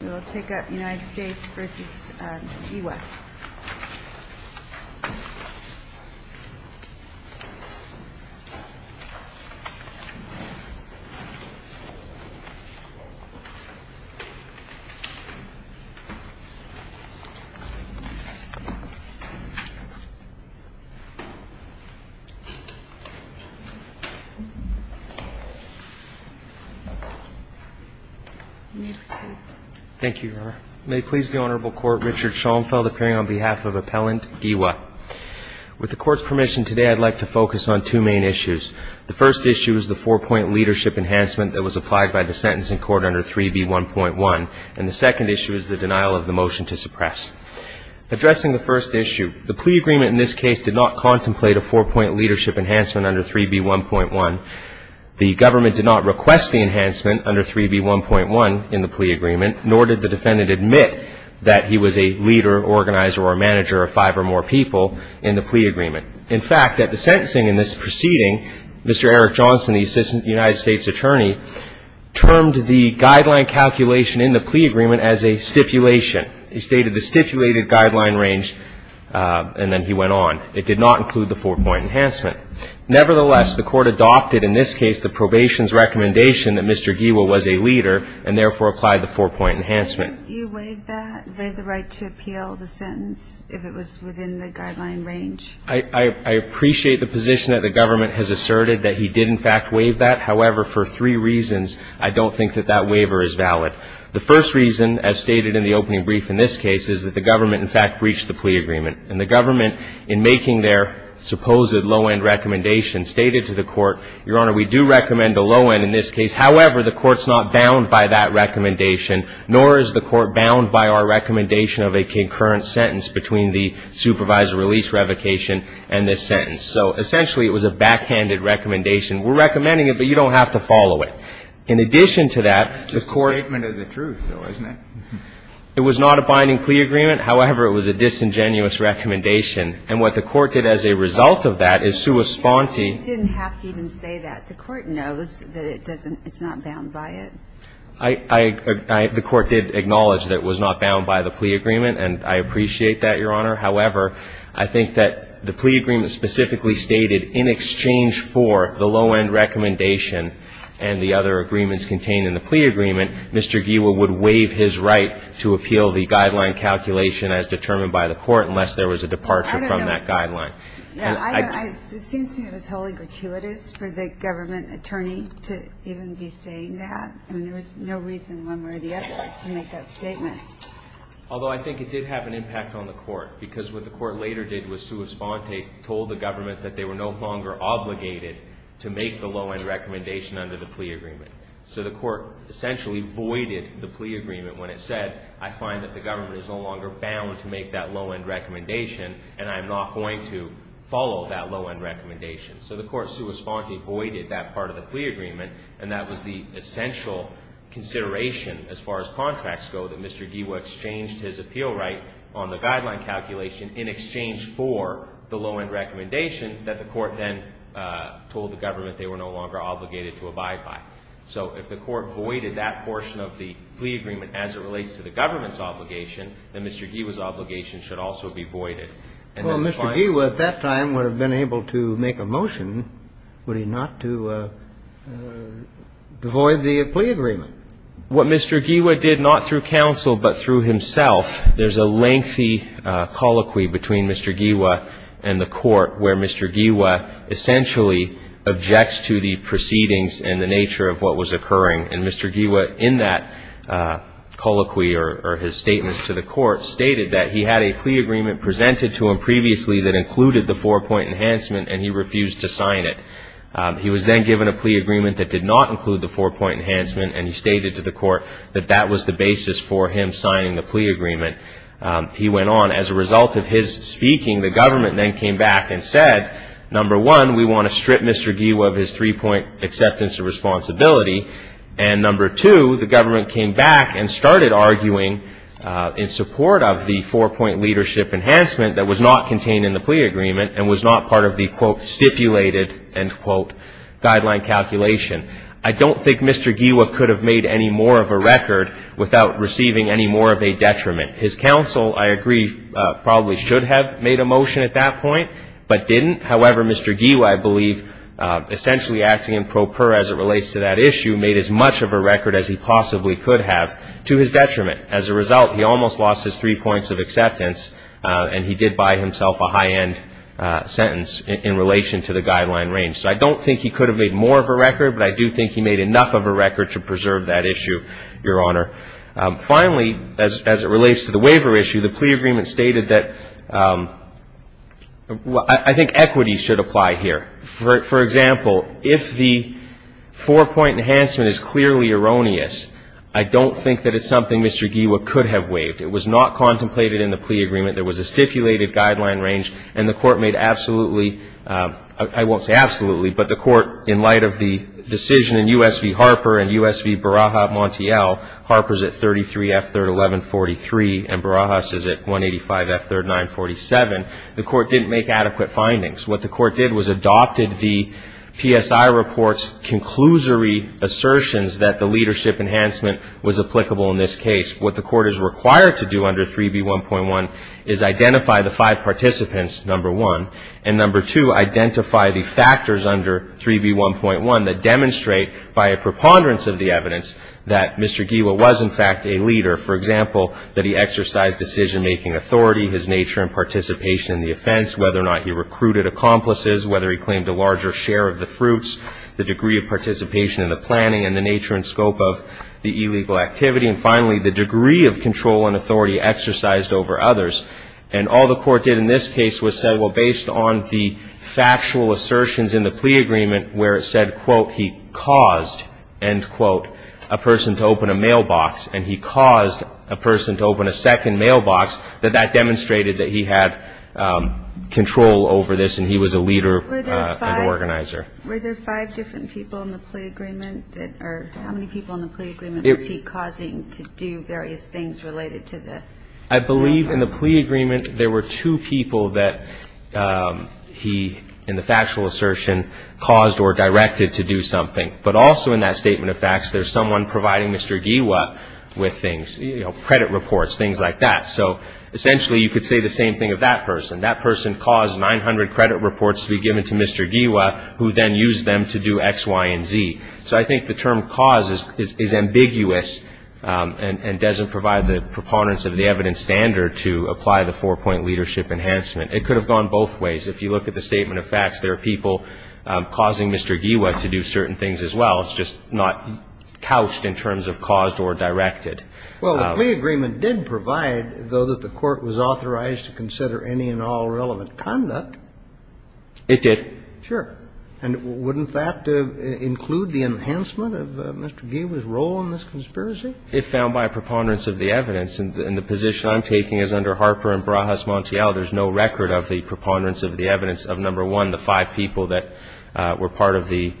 We will take up United States v. Giwa Thank you, Your Honor. May it please the Honorable Court, Richard Schoenfeld appearing on behalf of Appellant Giwa. With the Court's permission today, I'd like to focus on two main issues. The first issue is the four-point leadership enhancement that was applied by the sentencing court under 3B1.1, and the second issue is the denial of the motion to suppress. Addressing the first issue, the plea agreement in this case did not contemplate a four-point leadership enhancement under 3B1.1. The government did not request the enhancement under 3B1.1 in the plea agreement, nor did the defendant admit that he was a leader, organizer, or a manager of five or more people in the plea agreement. In fact, at the sentencing in this proceeding, Mr. Eric Johnson, the Assistant United States Attorney, termed the guideline calculation in the plea agreement as a stipulation. He stated the stipulated guideline range, and then he went on. It did not include the four-point enhancement. Nevertheless, the Court adopted in this case the probation's recommendation that Mr. Giwa was a leader, and therefore applied the four-point enhancement. You waived that? Waived the right to appeal the sentence if it was within the guideline range? I appreciate the position that the government has asserted that he did in fact waive that. However, for three reasons, I don't think that that waiver is valid. The first reason, as stated in the opening brief in this case, is that the government in fact breached the plea agreement. And the government, in making their supposed low-end recommendation, stated to the Court, Your Honor, we do recommend a low-end in this case. However, the Court's not bound by that recommendation, nor is the Court bound by our recommendation of a concurrent sentence between the supervisor release revocation and this sentence. So essentially, it was a backhanded recommendation. We're recommending it, but you don't have to follow it. In addition to that, the Court ---- It's a statement of the truth, though, isn't it? It was not a binding plea agreement. However, it was a disingenuous recommendation. And what the Court did as a result of that is, sua sponte. You didn't have to even say that. The Court knows that it doesn't ---- it's not bound by it. I ---- the Court did acknowledge that it was not bound by the plea agreement, and I appreciate that, Your Honor. However, I think that the plea agreement specifically stated, in exchange for the low-end recommendation and the other agreements contained in the plea agreement, Mr. Giewa would waive his right to appeal the guideline calculation as determined by the Court unless there was a departure from that guideline. And I ---- I don't know. It seems to me it was wholly gratuitous for the government attorney to even be saying that. I mean, there was no reason one way or the other to make that statement. Although I think it did have an impact on the Court, because what the Court later did was sua sponte, told the government that they were no longer obligated to make the low-end recommendation under the plea agreement. So the Court essentially voided the plea agreement when it said, I find that the government is no longer bound to make that low-end recommendation, and I am not going to follow that low-end recommendation. So the Court sua sponte voided that part of the plea agreement, and that was the essential consideration as far as contracts go, that Mr. Giewa exchanged his appeal right on the guideline calculation in exchange for the low-end recommendation that the Court then told the government they were no longer obligated to abide by. So if the Court voided that portion of the plea agreement as it relates to the government's obligation, then Mr. Giewa's obligation should also be voided. And then finally the Court would have been able to make a motion, would it not, to void the plea agreement. What Mr. Giewa did, not through counsel but through himself, there's a lengthy colloquy between Mr. Giewa and the Court where Mr. Giewa essentially objects to the proceedings and the nature of what was occurring. And Mr. Giewa in that colloquy or his statement to the Court stated that he had a plea agreement presented to him previously that included the four-point enhancement and he refused to sign it. He was then given a plea agreement that did not include the four-point enhancement and he stated to the Court that that was the basis for him signing the plea agreement. He went on, as a result of his speaking, the government then came back and said, number one, we want to strip Mr. Giewa of his three-point acceptance of responsibility, and number two, the government came back and started arguing in support of the four-point leadership enhancement that was not contained in the plea agreement and was not part of the, quote, stipulated, end quote, guideline calculation. I don't think Mr. Giewa could have made any more of a record without receiving any more of a detriment. His counsel, I agree, probably should have made a motion at that point, but didn't, however, Mr. Giewa, I believe, essentially acting in pro per as it relates to that issue, made as much of a record as he possibly could have to his detriment. As a result, he almost lost his three points of acceptance and he did buy himself a high-end sentence in relation to the guideline range. So I don't think he could have made more of a record, but I do think he made enough of a record to preserve that issue, Your Honor. Finally, as it relates to the waiver issue, the plea agreement stated that I think equity should apply here. For example, if the four-point enhancement is clearly erroneous, I don't think that it's something Mr. Giewa could have waived. It was not contemplated in the plea agreement. There was a stipulated guideline range and the Court made absolutely, I won't say absolutely, but the Court, in light of the decision in U.S. v. Harper and U.S. v. Baraja Montiel, Harper's at 33 F-3rd 1143 and Baraja's at 185 F-3rd 947, the Court didn't make adequate findings. What the Court did was adopted the PSI report's conclusory assertions that the leadership enhancement was applicable in this case. What the Court is required to do under 3B1.1 is identify the five participants, number one, and number two, identify the factors under 3B1.1 that demonstrate by a preponderance of the evidence that Mr. Giewa was, in fact, a leader. For example, that he exercised decision-making authority, his nature and participation in the offense, whether or not he recruited accomplices, whether he claimed a larger share of the fruits, the degree of participation in the planning, and the nature and scope of the illegal activity. And finally, the degree of control and authority exercised over others. And all the Court did in this case was say, well, based on the factual assertions in the plea agreement where it said, quote, he caused, end quote, a person to open a mailbox and he caused a person to open a second mailbox, that that demonstrated that he had control over this and he was a leader and organizer. Were there five different people in the plea agreement? Or how many people in the plea agreement was he causing to do various things related to the mailbox? I believe in the plea agreement there were two people that he, in the factual assertion, caused or directed to do something. But also in that statement of facts there's someone providing Mr. Giewa with things, you know, credit reports, things like that. So essentially you could say the same thing of that person. That person caused 900 credit reports to be given to Mr. Giewa, who then used them to do X, Y, and Z. So I think the term cause is ambiguous and doesn't provide the preponderance of the evidence standard to apply the four-point leadership enhancement. It could have gone both ways. If you look at the statement of facts, there are people causing Mr. Giewa to do certain things as well. It's just not couched in terms of caused or directed. Well, the plea agreement did provide, though, that the Court was authorized to consider any and all relevant conduct. It did. Sure. And wouldn't that include the enhancement of Mr. Giewa's role in this conspiracy? If found by a preponderance of the evidence, and the position I'm taking is under Harper and Barajas-Montiel, there's no record of the preponderance of the evidence of, number one, the five people that were part of the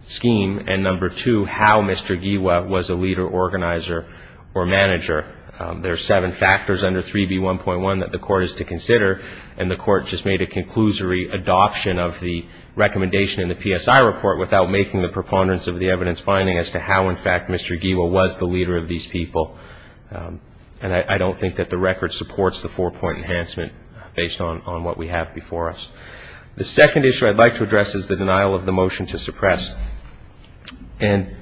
scheme, and, number two, how Mr. Giewa was a leader, organizer, or manager. There are seven factors under 3B1.1 that the Court is to consider, and the Court just made a conclusory adoption of the recommendation in the PSI report without making the preponderance of the evidence finding as to how, in fact, Mr. Giewa was the leader of these people. And I don't think that the record supports the four-point enhancement based on what we have before us. The second issue I'd like to address is the denial of the motion to suppress. And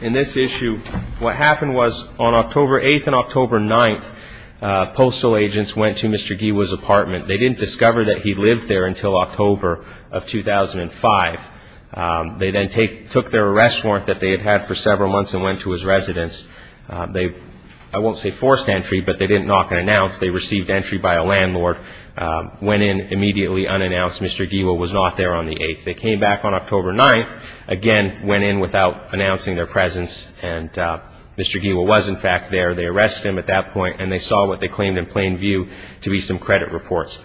in this issue, what happened was on October 8th and October 9th, postal agents went to Mr. Giewa's apartment. They didn't discover that he lived there until October of 2005. They then took their arrest warrant that they had had for several months and went to his residence. They, I won't say forced entry, but they didn't knock and announce. They received entry by a landlord, went in immediately unannounced. Mr. Giewa was not there on the 8th. They came back on October 9th, again went in without announcing their presence, and Mr. Giewa was, in fact, there. They arrested him at that point, and they saw what they claimed in plain view to be some credit reports.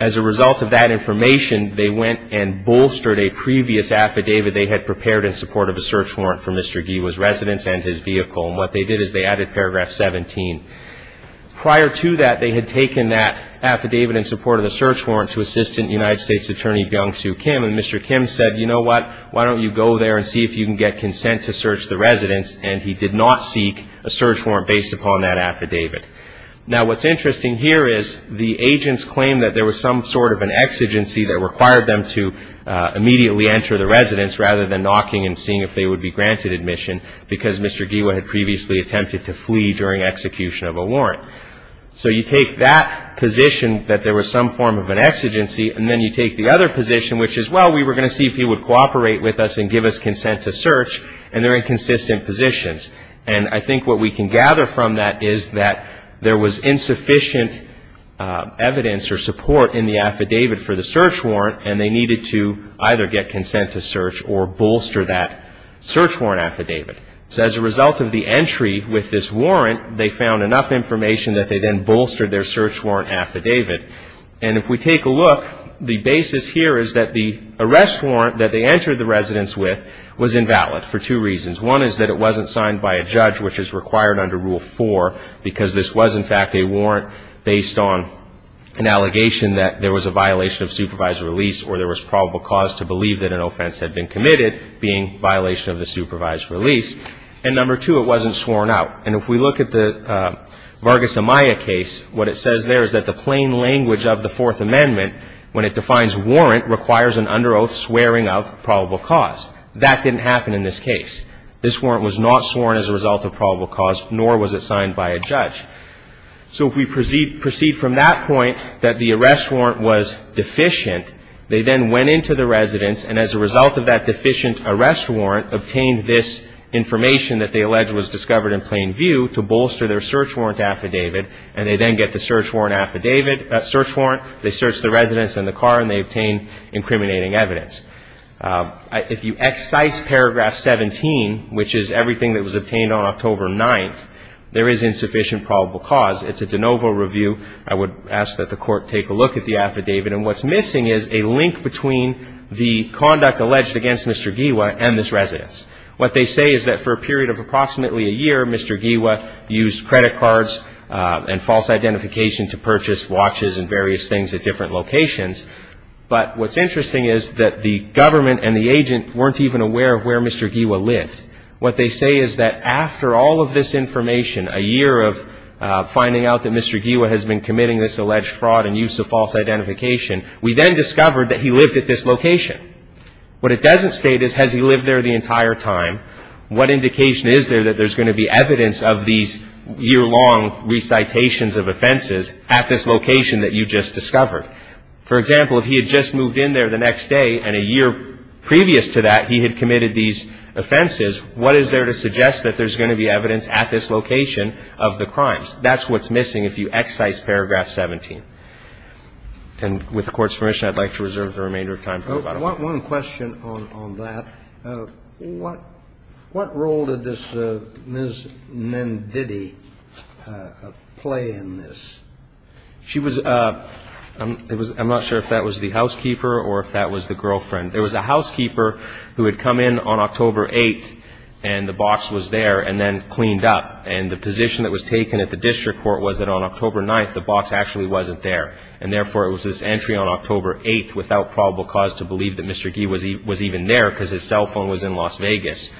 As a result of that information, they went and bolstered a previous affidavit they had prepared in support of a search warrant for Mr. Giewa's residence and his vehicle. And what they did is they added paragraph 17. Prior to that, they had taken that affidavit in support of the search warrant to Assistant United States Attorney Byung-Soo Kim. And Mr. Kim said, you know what, why don't you go there and see if you can get consent to search the residence. And he did not seek a search warrant based upon that affidavit. Now, what's interesting here is the agents claimed that there was some sort of an exigency that required them to immediately enter the residence rather than knocking and seeing if they would be granted admission because Mr. Giewa had previously attempted to flee during execution of a warrant. So you take that position that there was some form of an exigency, and then you take the other position, which is, well, we were going to see if he would cooperate with us and give us consent to search, and they're in consistent positions. And I think what we can gather from that is that there was insufficient evidence or support in the affidavit for the search warrant, and they needed to either get consent to search or bolster that search warrant affidavit. So as a result of the entry with this warrant, they found enough information that they then bolstered their search warrant affidavit. And if we take a look, the basis here is that the arrest warrant that they entered the residence with was invalid for two reasons. One is that it wasn't signed by a judge, which is required under Rule 4, because this was, in fact, a warrant based on an allegation that there was a violation of supervised release or there was probable cause to believe that an offense had been committed being violation of the supervised release. And number two, it wasn't sworn out. And if we look at the Vargas Amaya case, what it says there is that the plain language of the Fourth Amendment, when it defines warrant, requires an under oath swearing of probable cause. That didn't happen in this case. This warrant was not sworn as a result of probable cause, nor was it signed by a judge. So if we proceed from that point that the arrest warrant was deficient, they then went into the residence, and as a result of that deficient arrest warrant, obtained this information that they allege was discovered in plain view to bolster their search warrant affidavit, and they then get the search warrant affidavit, search warrant. They search the residence and the car, and they obtain incriminating evidence. If you excise paragraph 17, which is everything that was obtained on October 9th, there is insufficient probable cause. It's a de novo review. I would ask that the Court take a look at the affidavit. And what's missing is a link between the conduct alleged against Mr. Guiwa and this residence. What they say is that for a period of approximately a year, Mr. Guiwa used credit cards and false identification to purchase watches and various things at different locations. But what's interesting is that the government and the agent weren't even aware of where Mr. Guiwa lived. What they say is that after all of this information, a year of finding out that Mr. Guiwa has been committing this alleged fraud and use of false identification, we then discovered that he lived at this location. What it doesn't state is, has he lived there the entire time? What indication is there that there's going to be evidence of these year-long recitations of offenses at this location that you just discovered? For example, if he had just moved in there the next day and a year previous to that he had committed these offenses, what is there to suggest that there's going to be evidence at this location of the crimes? That's what's missing if you excise Paragraph 17. And with the Court's permission, I'd like to reserve the remainder of time. I want one question on that. What role did this Ms. Menditti play in this? She was a – I'm not sure if that was the housekeeper or if that was the girlfriend. There was a housekeeper who had come in on October 8th, and the box was there and then cleaned up. And the position that was taken at the district court was that on October 9th, the box actually wasn't there. And therefore, it was this entry on October 8th, without probable cause to believe that Mr. Guiwa was even there because his cell phone was in Las Vegas,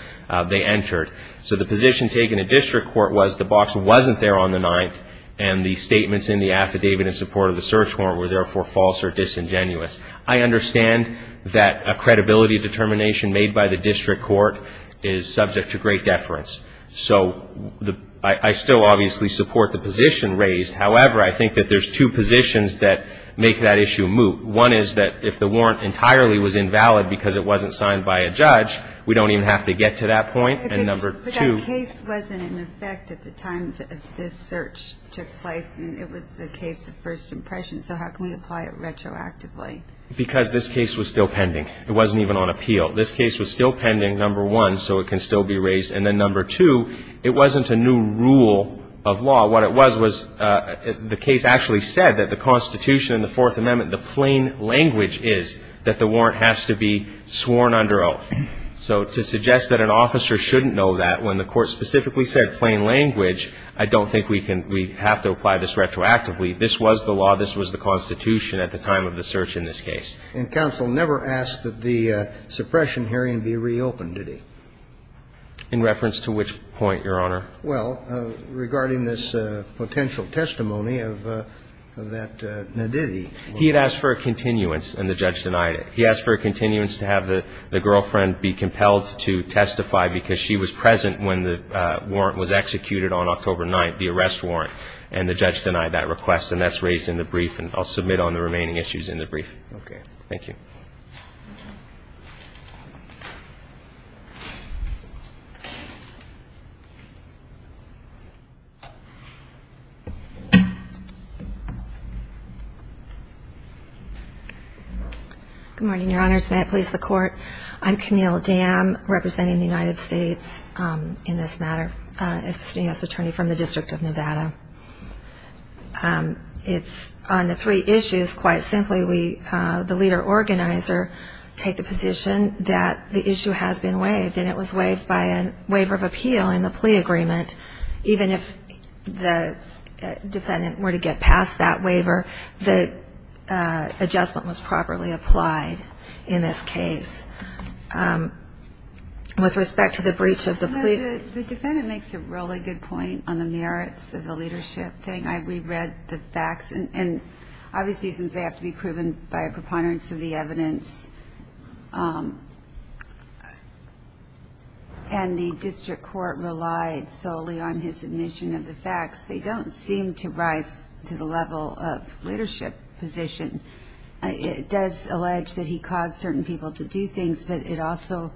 they entered. So the position taken at district court was the box wasn't there on the 9th, and the statements in the affidavit in support of the search warrant were therefore false or disingenuous. I understand that a credibility determination made by the district court is subject to great deference. So I still obviously support the position raised. However, I think that there's two positions that make that issue moot. One is that if the warrant entirely was invalid because it wasn't signed by a judge, we don't even have to get to that point. And number two – But that case wasn't in effect at the time that this search took place, and it was a case of first impression. So how can we apply it retroactively? Because this case was still pending. It wasn't even on appeal. This case was still pending, number one, so it can still be raised. And then number two, it wasn't a new rule of law. What it was was the case actually said that the Constitution and the Fourth Amendment, the plain language is that the warrant has to be sworn under oath. So to suggest that an officer shouldn't know that when the court specifically said plain language, I don't think we have to apply this retroactively. This was the law. This was the Constitution at the time of the search in this case. And counsel never asked that the suppression hearing be reopened, did he? In reference to which point, Your Honor? Well, regarding this potential testimony of that naditi. He had asked for a continuance, and the judge denied it. He asked for a continuance to have the girlfriend be compelled to testify because she was present when the warrant was executed on October 9th, the arrest warrant, and the judge denied that request, and that's raised in the brief, and I'll submit on the remaining issues in the brief. Okay. Thank you. Good morning, Your Honors. May I please the Court? I'm Camille Dam, representing the United States in this matter, assisting U.S. Attorney from the District of Nevada. It's on the three issues, quite simply, the leader organizer take the position that the issue has been waived, and it was waived by a waiver of appeal in the plea agreement. Even if the defendant were to get past that waiver, the adjustment was properly applied in this case. With respect to the breach of the plea. The defendant makes a really good point on the merits of the leadership thing. I reread the facts, and obviously since they have to be proven by a preponderance of the evidence and the district court relied solely on his admission of the facts, they don't seem to rise to the level of leadership position. It does allege that he caused certain people to do things, but he also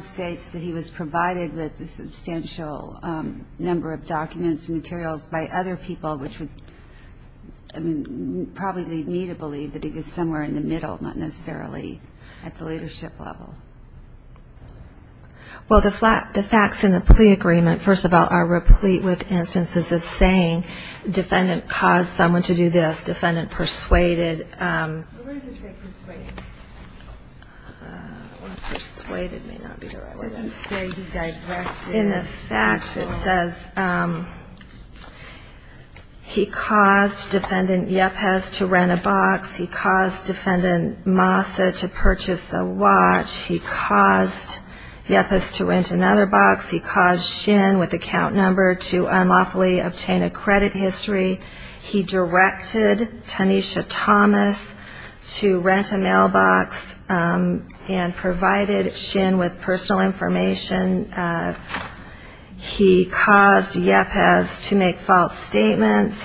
states that he was provided with a substantial number of documents and materials by other people, which would probably lead me to believe that he was somewhere in the middle, not necessarily at the leadership level. Well, the facts in the plea agreement, first of all, are replete with instances of saying defendant caused someone to do this, defendant persuaded. Where does it say persuaded? Persuaded may not be the right word. It doesn't say he directed. In the facts it says he caused defendant Yepes to rent a box, he caused defendant Massa to purchase a watch, he caused Yepes to rent another box, he caused Shin with account number to unlawfully obtain a credit history, he directed Tanisha Thomas to rent a mailbox and provided Shin with personal information, he caused Yepes to make false statements,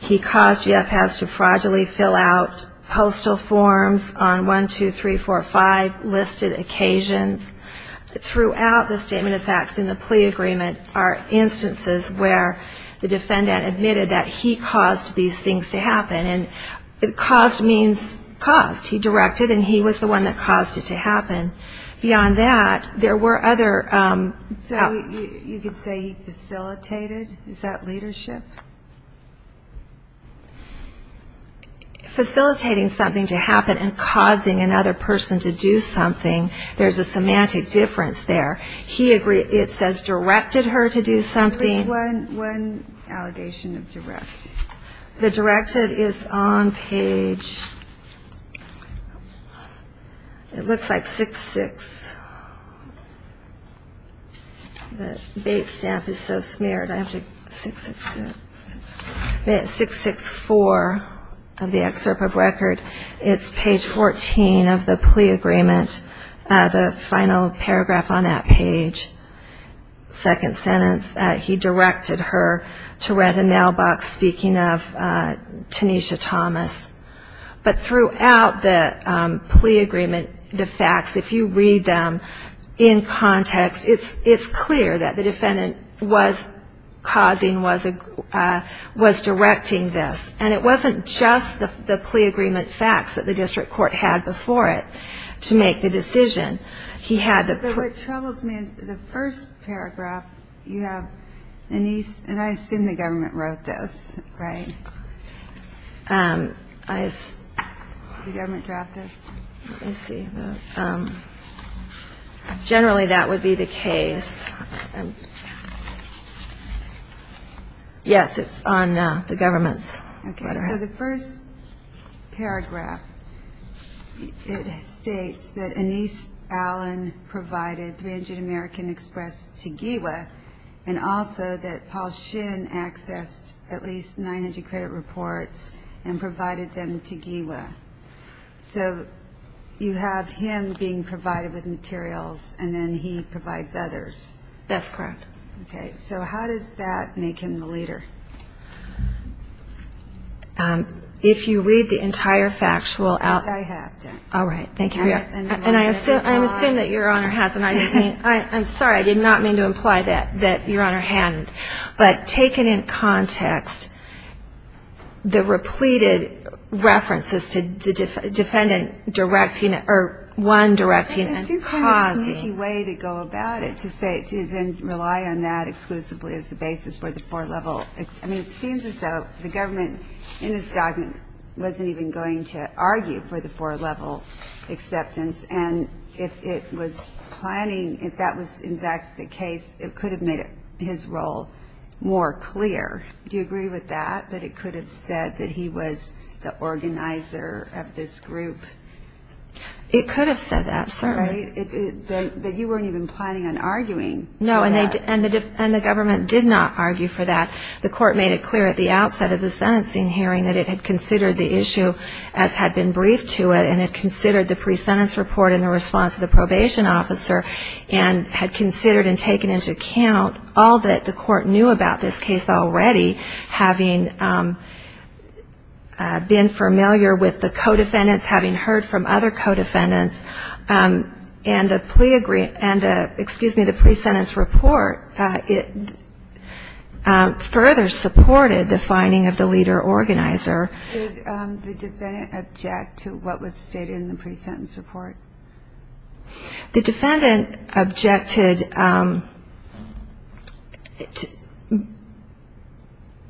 he caused Yepes to fraudulently fill out postal forms on 1, 2, 3, 4, 5 listed occasions. Throughout the statement of facts in the plea agreement are instances where the defendant admitted that he caused these things to happen. And caused means caused. He directed and he was the one that caused it to happen. Beyond that, there were other... So you could say he facilitated? Is that leadership? Facilitating something to happen and causing another person to do something, there's a semantic difference there. It says directed her to do something. There's one allegation of direct. The directed is on page... It looks like 6-6. The bait stamp is so smeared, I have to... 6-6-4 of the excerpt of record. It's page 14 of the plea agreement. The final paragraph on that page, second sentence, he directed her to rent a mailbox speaking of Tanisha Thomas. But throughout the plea agreement, the facts, if you read them in context, it's clear that the defendant was causing, was directing this. And it wasn't just the plea agreement facts that the district court had before it to make the decision. What troubles me is the first paragraph you have, and I assume the government wrote this, right? Did the government draft this? Generally, that would be the case. Yes, it's on the government's letterhead. Okay, so the first paragraph, it states that Anise Allen provided 300 American Express to GEWA, and also that Paul Shin accessed at least 900 credit reports and provided them to GEWA. So you have him being provided with materials, and then he provides others. That's correct. Okay, so how does that make him the leader? If you read the entire factual outline. Which I have done. All right, thank you. And I assume that Your Honor has, and I'm sorry, I did not mean to imply that Your Honor hadn't. But taken in context, the repleted references to the defendant directing and causing. It seems kind of a sneaky way to go about it, to then rely on that exclusively as the basis for the four-level. I mean, it seems as though the government in this document wasn't even going to argue for the four-level acceptance. And if it was planning, if that was in fact the case, it could have made his role more clear. Do you agree with that, that it could have said that he was the organizer of this group? It could have said that, certainly. But you weren't even planning on arguing for that. No, and the government did not argue for that. The court made it clear at the outset of the sentencing hearing that it had considered the issue as had been briefed to it, and had considered the pre-sentence report in response to the probation officer, and had considered and taken into account all that the court knew about this case already, having been familiar with the co-defendants, having heard from other co-defendants, and the pre-sentence report further supported the finding of the leader organizer. Did the defendant object to what was stated in the pre-sentence report? The defendant objected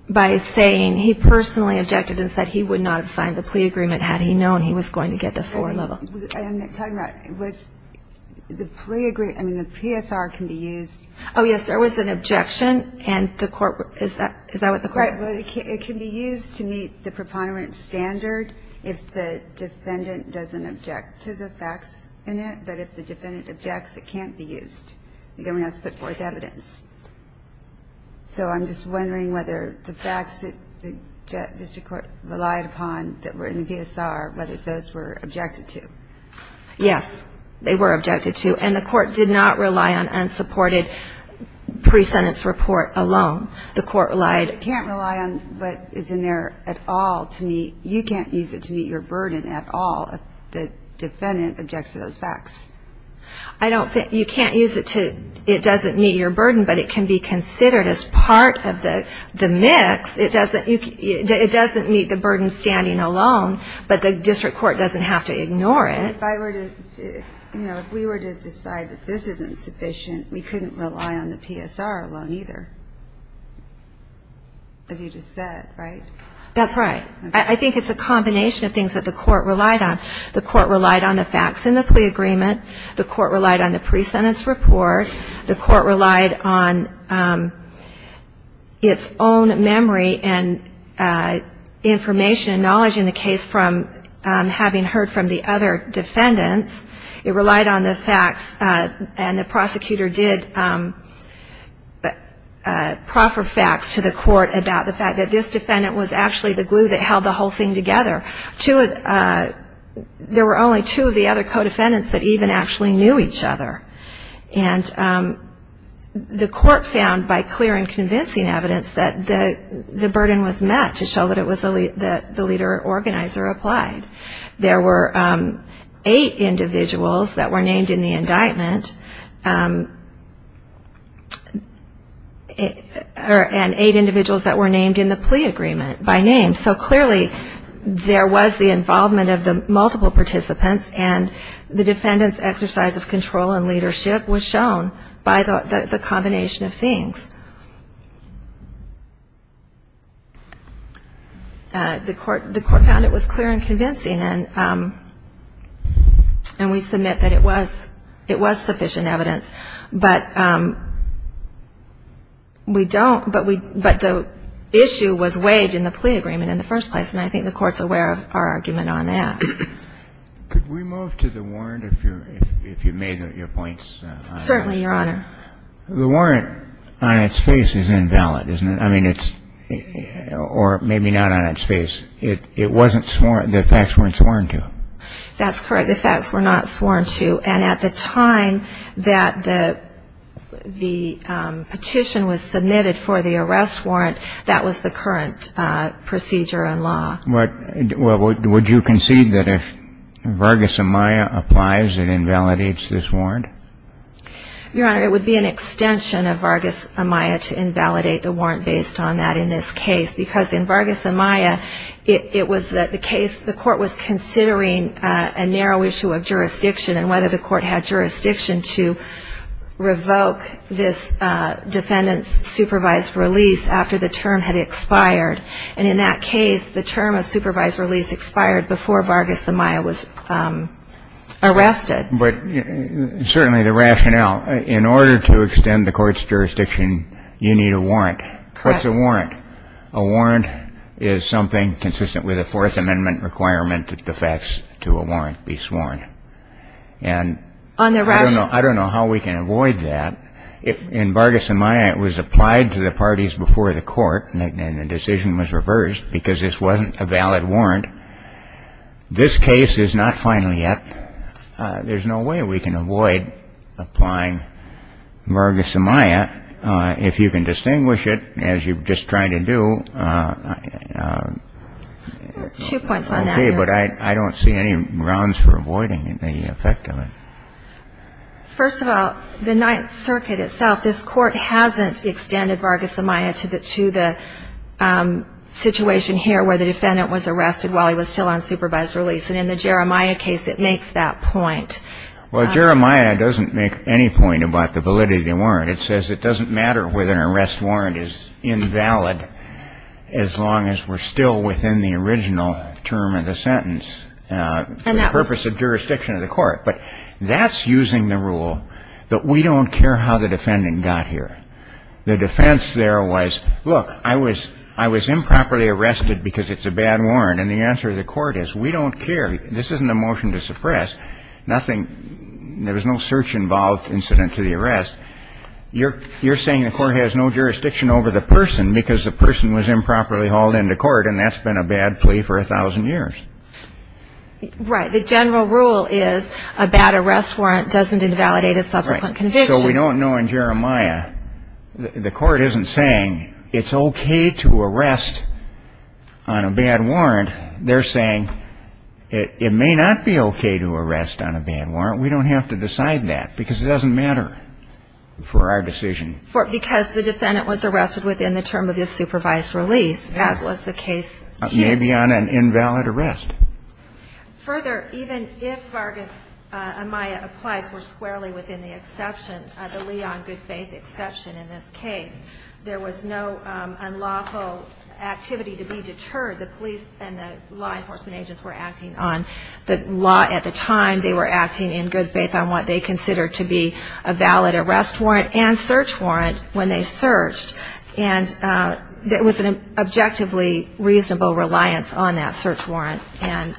by saying he personally objected and said he would not have the plea agreement had he known he was going to get the floor level. I'm not talking about the plea agreement. I mean, the PSR can be used. Oh, yes, there was an objection. Is that what the court said? It can be used to meet the preponderance standard if the defendant doesn't object to the facts in it, but if the defendant objects, it can't be used. The government has to put forth evidence. So I'm just wondering whether the facts that the district court relied upon that were in the PSR, whether those were objected to. Yes, they were objected to. And the court did not rely on unsupported pre-sentence report alone. The court relied ñ You can't rely on what is in there at all to meet ñ you can't use it to meet your burden at all if the defendant objects to those facts. I don't think ñ you can't use it to ñ it doesn't meet your burden, but it can be considered as part of the mix. It doesn't meet the burden standing alone, but the district court doesn't have to ignore it. If I were to ñ you know, if we were to decide that this isn't sufficient, we couldn't rely on the PSR alone either, as you just said, right? That's right. I think it's a combination of things that the court relied on. The court relied on the facts in the plea agreement. The court relied on the pre-sentence report. The court relied on its own memory and information, knowledge in the case from having heard from the other defendants. It relied on the facts, and the prosecutor did proffer facts to the court about the fact that this defendant was actually the glue that held the whole thing together. There were only two of the other co-defendants that even actually knew each other. And the court found by clear and convincing evidence that the burden was met to show that it was ñ that the leader organizer applied. There were eight individuals that were named in the indictment, and eight individuals that were named in the plea agreement by name. So clearly there was the involvement of the multiple participants, and the defendant's exercise of control and leadership was shown by the combination of things. The court found it was clear and convincing, and we submit that it was sufficient evidence. But we don't ñ but the issue was weighed in the plea agreement in the first place, and I think the court's aware of our argument on that. Could we move to the warrant, if you made your points? Certainly, Your Honor. The warrant on its face is invalid, isn't it? I mean, it's ñ or maybe not on its face. It wasn't sworn ñ the facts weren't sworn to. That's correct. The facts were not sworn to. And at the time that the petition was submitted for the arrest warrant, that was the current procedure and law. Well, would you concede that if Vargas Amaya applies, it invalidates this warrant? Your Honor, it would be an extension of Vargas Amaya to invalidate the warrant based on that in this case, because in Vargas Amaya, it was the case ñ the court was considering a narrow issue of jurisdiction, and whether the court had jurisdiction to revoke this defendant's supervised release after the term had expired. And in that case, the term of supervised release expired before Vargas Amaya was arrested. But certainly the rationale ñ in order to extend the court's jurisdiction, you need a warrant. Correct. What's a warrant? A warrant is something consistent with a Fourth Amendment requirement that the facts to a warrant be sworn. And I don't know how we can avoid that. In Vargas Amaya, it was applied to the parties before the court, and the decision was reversed because this wasn't a valid warrant. This case is not final yet. There's no way we can avoid applying Vargas Amaya. If you can distinguish it, as you've just tried to do ñ There are two points on that. Okay. But I don't see any grounds for avoiding the effect of it. First of all, the Ninth Circuit itself, this court hasn't extended Vargas Amaya to the ñ to the situation here where the defendant was arrested while he was still on supervised release. And in the Jeremiah case, it makes that point. Well, Jeremiah doesn't make any point about the validity of the warrant. It says it doesn't matter whether an arrest warrant is invalid as long as we're still within the original term of the sentence for the purpose of jurisdiction of the court. But that's using the rule that we don't care how the defendant got here. The defense there was, look, I was ñ I was improperly arrested because it's a bad warrant. And the answer of the court is, we don't care. This isn't a motion to suppress. Nothing ñ there was no search-involved incident to the arrest. You're saying the court has no jurisdiction over the person because the person was improperly hauled into court and that's been a bad plea for 1,000 years. Right. The general rule is a bad arrest warrant doesn't invalidate a subsequent conviction. Right. So we don't know in Jeremiah, the court isn't saying it's okay to arrest on a bad warrant. They're saying it may not be okay to arrest on a bad warrant. We don't have to decide that because it doesn't matter for our decision. Because the defendant was arrested within the term of his supervised release, as was the case here. May be on an invalid arrest. Further, even if Vargas-Amaya applies were squarely within the exception, the Leon good faith exception in this case, there was no unlawful activity to be deterred. The police and the law enforcement agents were acting on the law at the time. They were acting in good faith on what they considered to be a valid arrest warrant and search warrant when they searched. And there was an objectively reasonable reliance on that search warrant and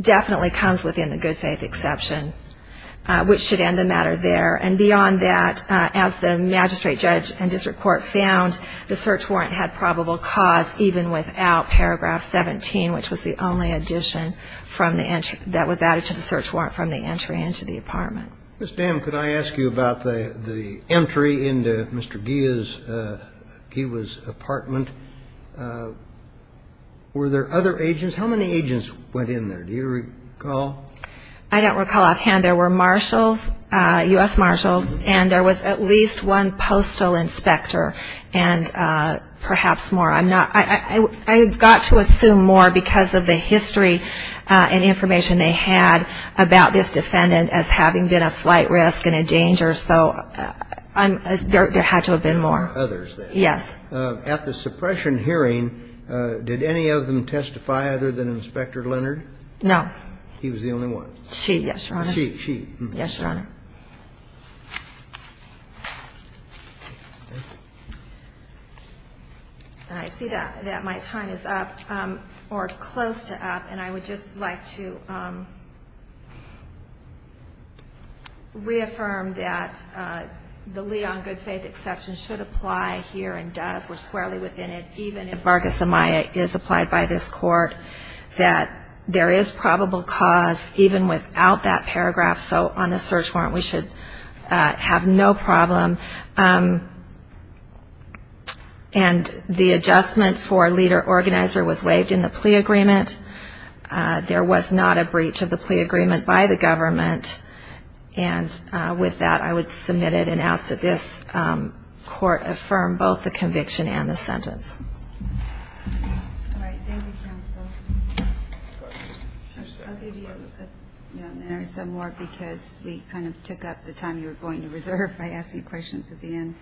definitely comes within the good faith exception, which should end the matter there. And beyond that, as the magistrate judge and district court found, the search warrant had probable cause even without paragraph 17, which was the only addition that was added to the search warrant from the entry into the apartment. Ms. Dam, could I ask you about the entry into Mr. Gia's apartment? Were there other agents? How many agents went in there? Do you recall? I don't recall offhand. There were marshals, U.S. marshals, and there was at least one postal inspector and perhaps more. I've got to assume more because of the history and information they had about this defendant as having been a flight risk and a danger, so there had to have been more. There were others there. Yes. At the suppression hearing, did any of them testify other than Inspector Leonard? No. He was the only one. She, yes, Your Honor. She. She. Yes, Your Honor. And I see that my time is up, or close to up, and I would just like to reaffirm that the lee on good faith exception should apply here and does. We're squarely within it. Even if Vargas Amaya is applied by this court, that there is probable cause even without that paragraph, so on the search warrant we should have no problem. And the adjustment for leader-organizer was waived in the plea agreement. There was not a breach of the plea agreement by the government, and with that I would submit it and ask that this court affirm both the conviction and the sentence. All right. Thank you, counsel. I'll give you a minute or so more because we kind of took up the time you were going to reserve by asking questions at the end.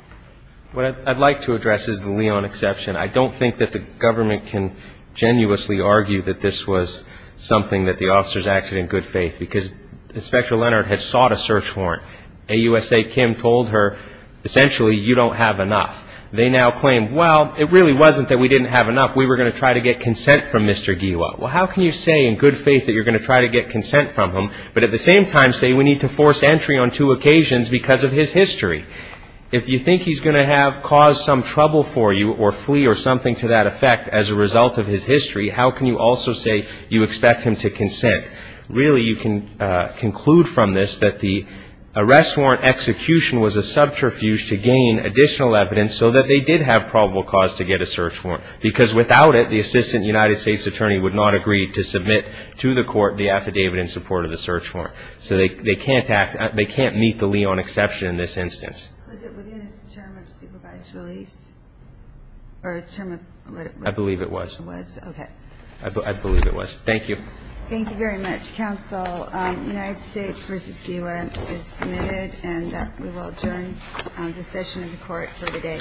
What I'd like to address is the lee on exception. I don't think that the government can genuinely argue that this was something that the officers acted in good faith because Inspector Leonard had sought a search warrant. AUSA Kim told her, essentially, you don't have enough. They now claim, well, it really wasn't that we didn't have enough. We were going to try to get consent from Mr. Gila. Well, how can you say in good faith that you're going to try to get consent from him, but at the same time say we need to force entry on two occasions because of his history? If you think he's going to have caused some trouble for you or flee or something to that effect as a result of his history, how can you also say you expect him to consent? Really, you can conclude from this that the arrest warrant execution was a subterfuge to gain additional evidence so that they did have probable cause to get a search warrant because without it, the Assistant United States Attorney would not have agreed to submit to the court the affidavit in support of the search warrant. So they can't meet the lee on exception in this instance. Was it within its term of supervised release? I believe it was. Okay. I believe it was. Thank you. Thank you very much, counsel. United States v. Gila is submitted, and we will adjourn this session in the court for today. Thank you.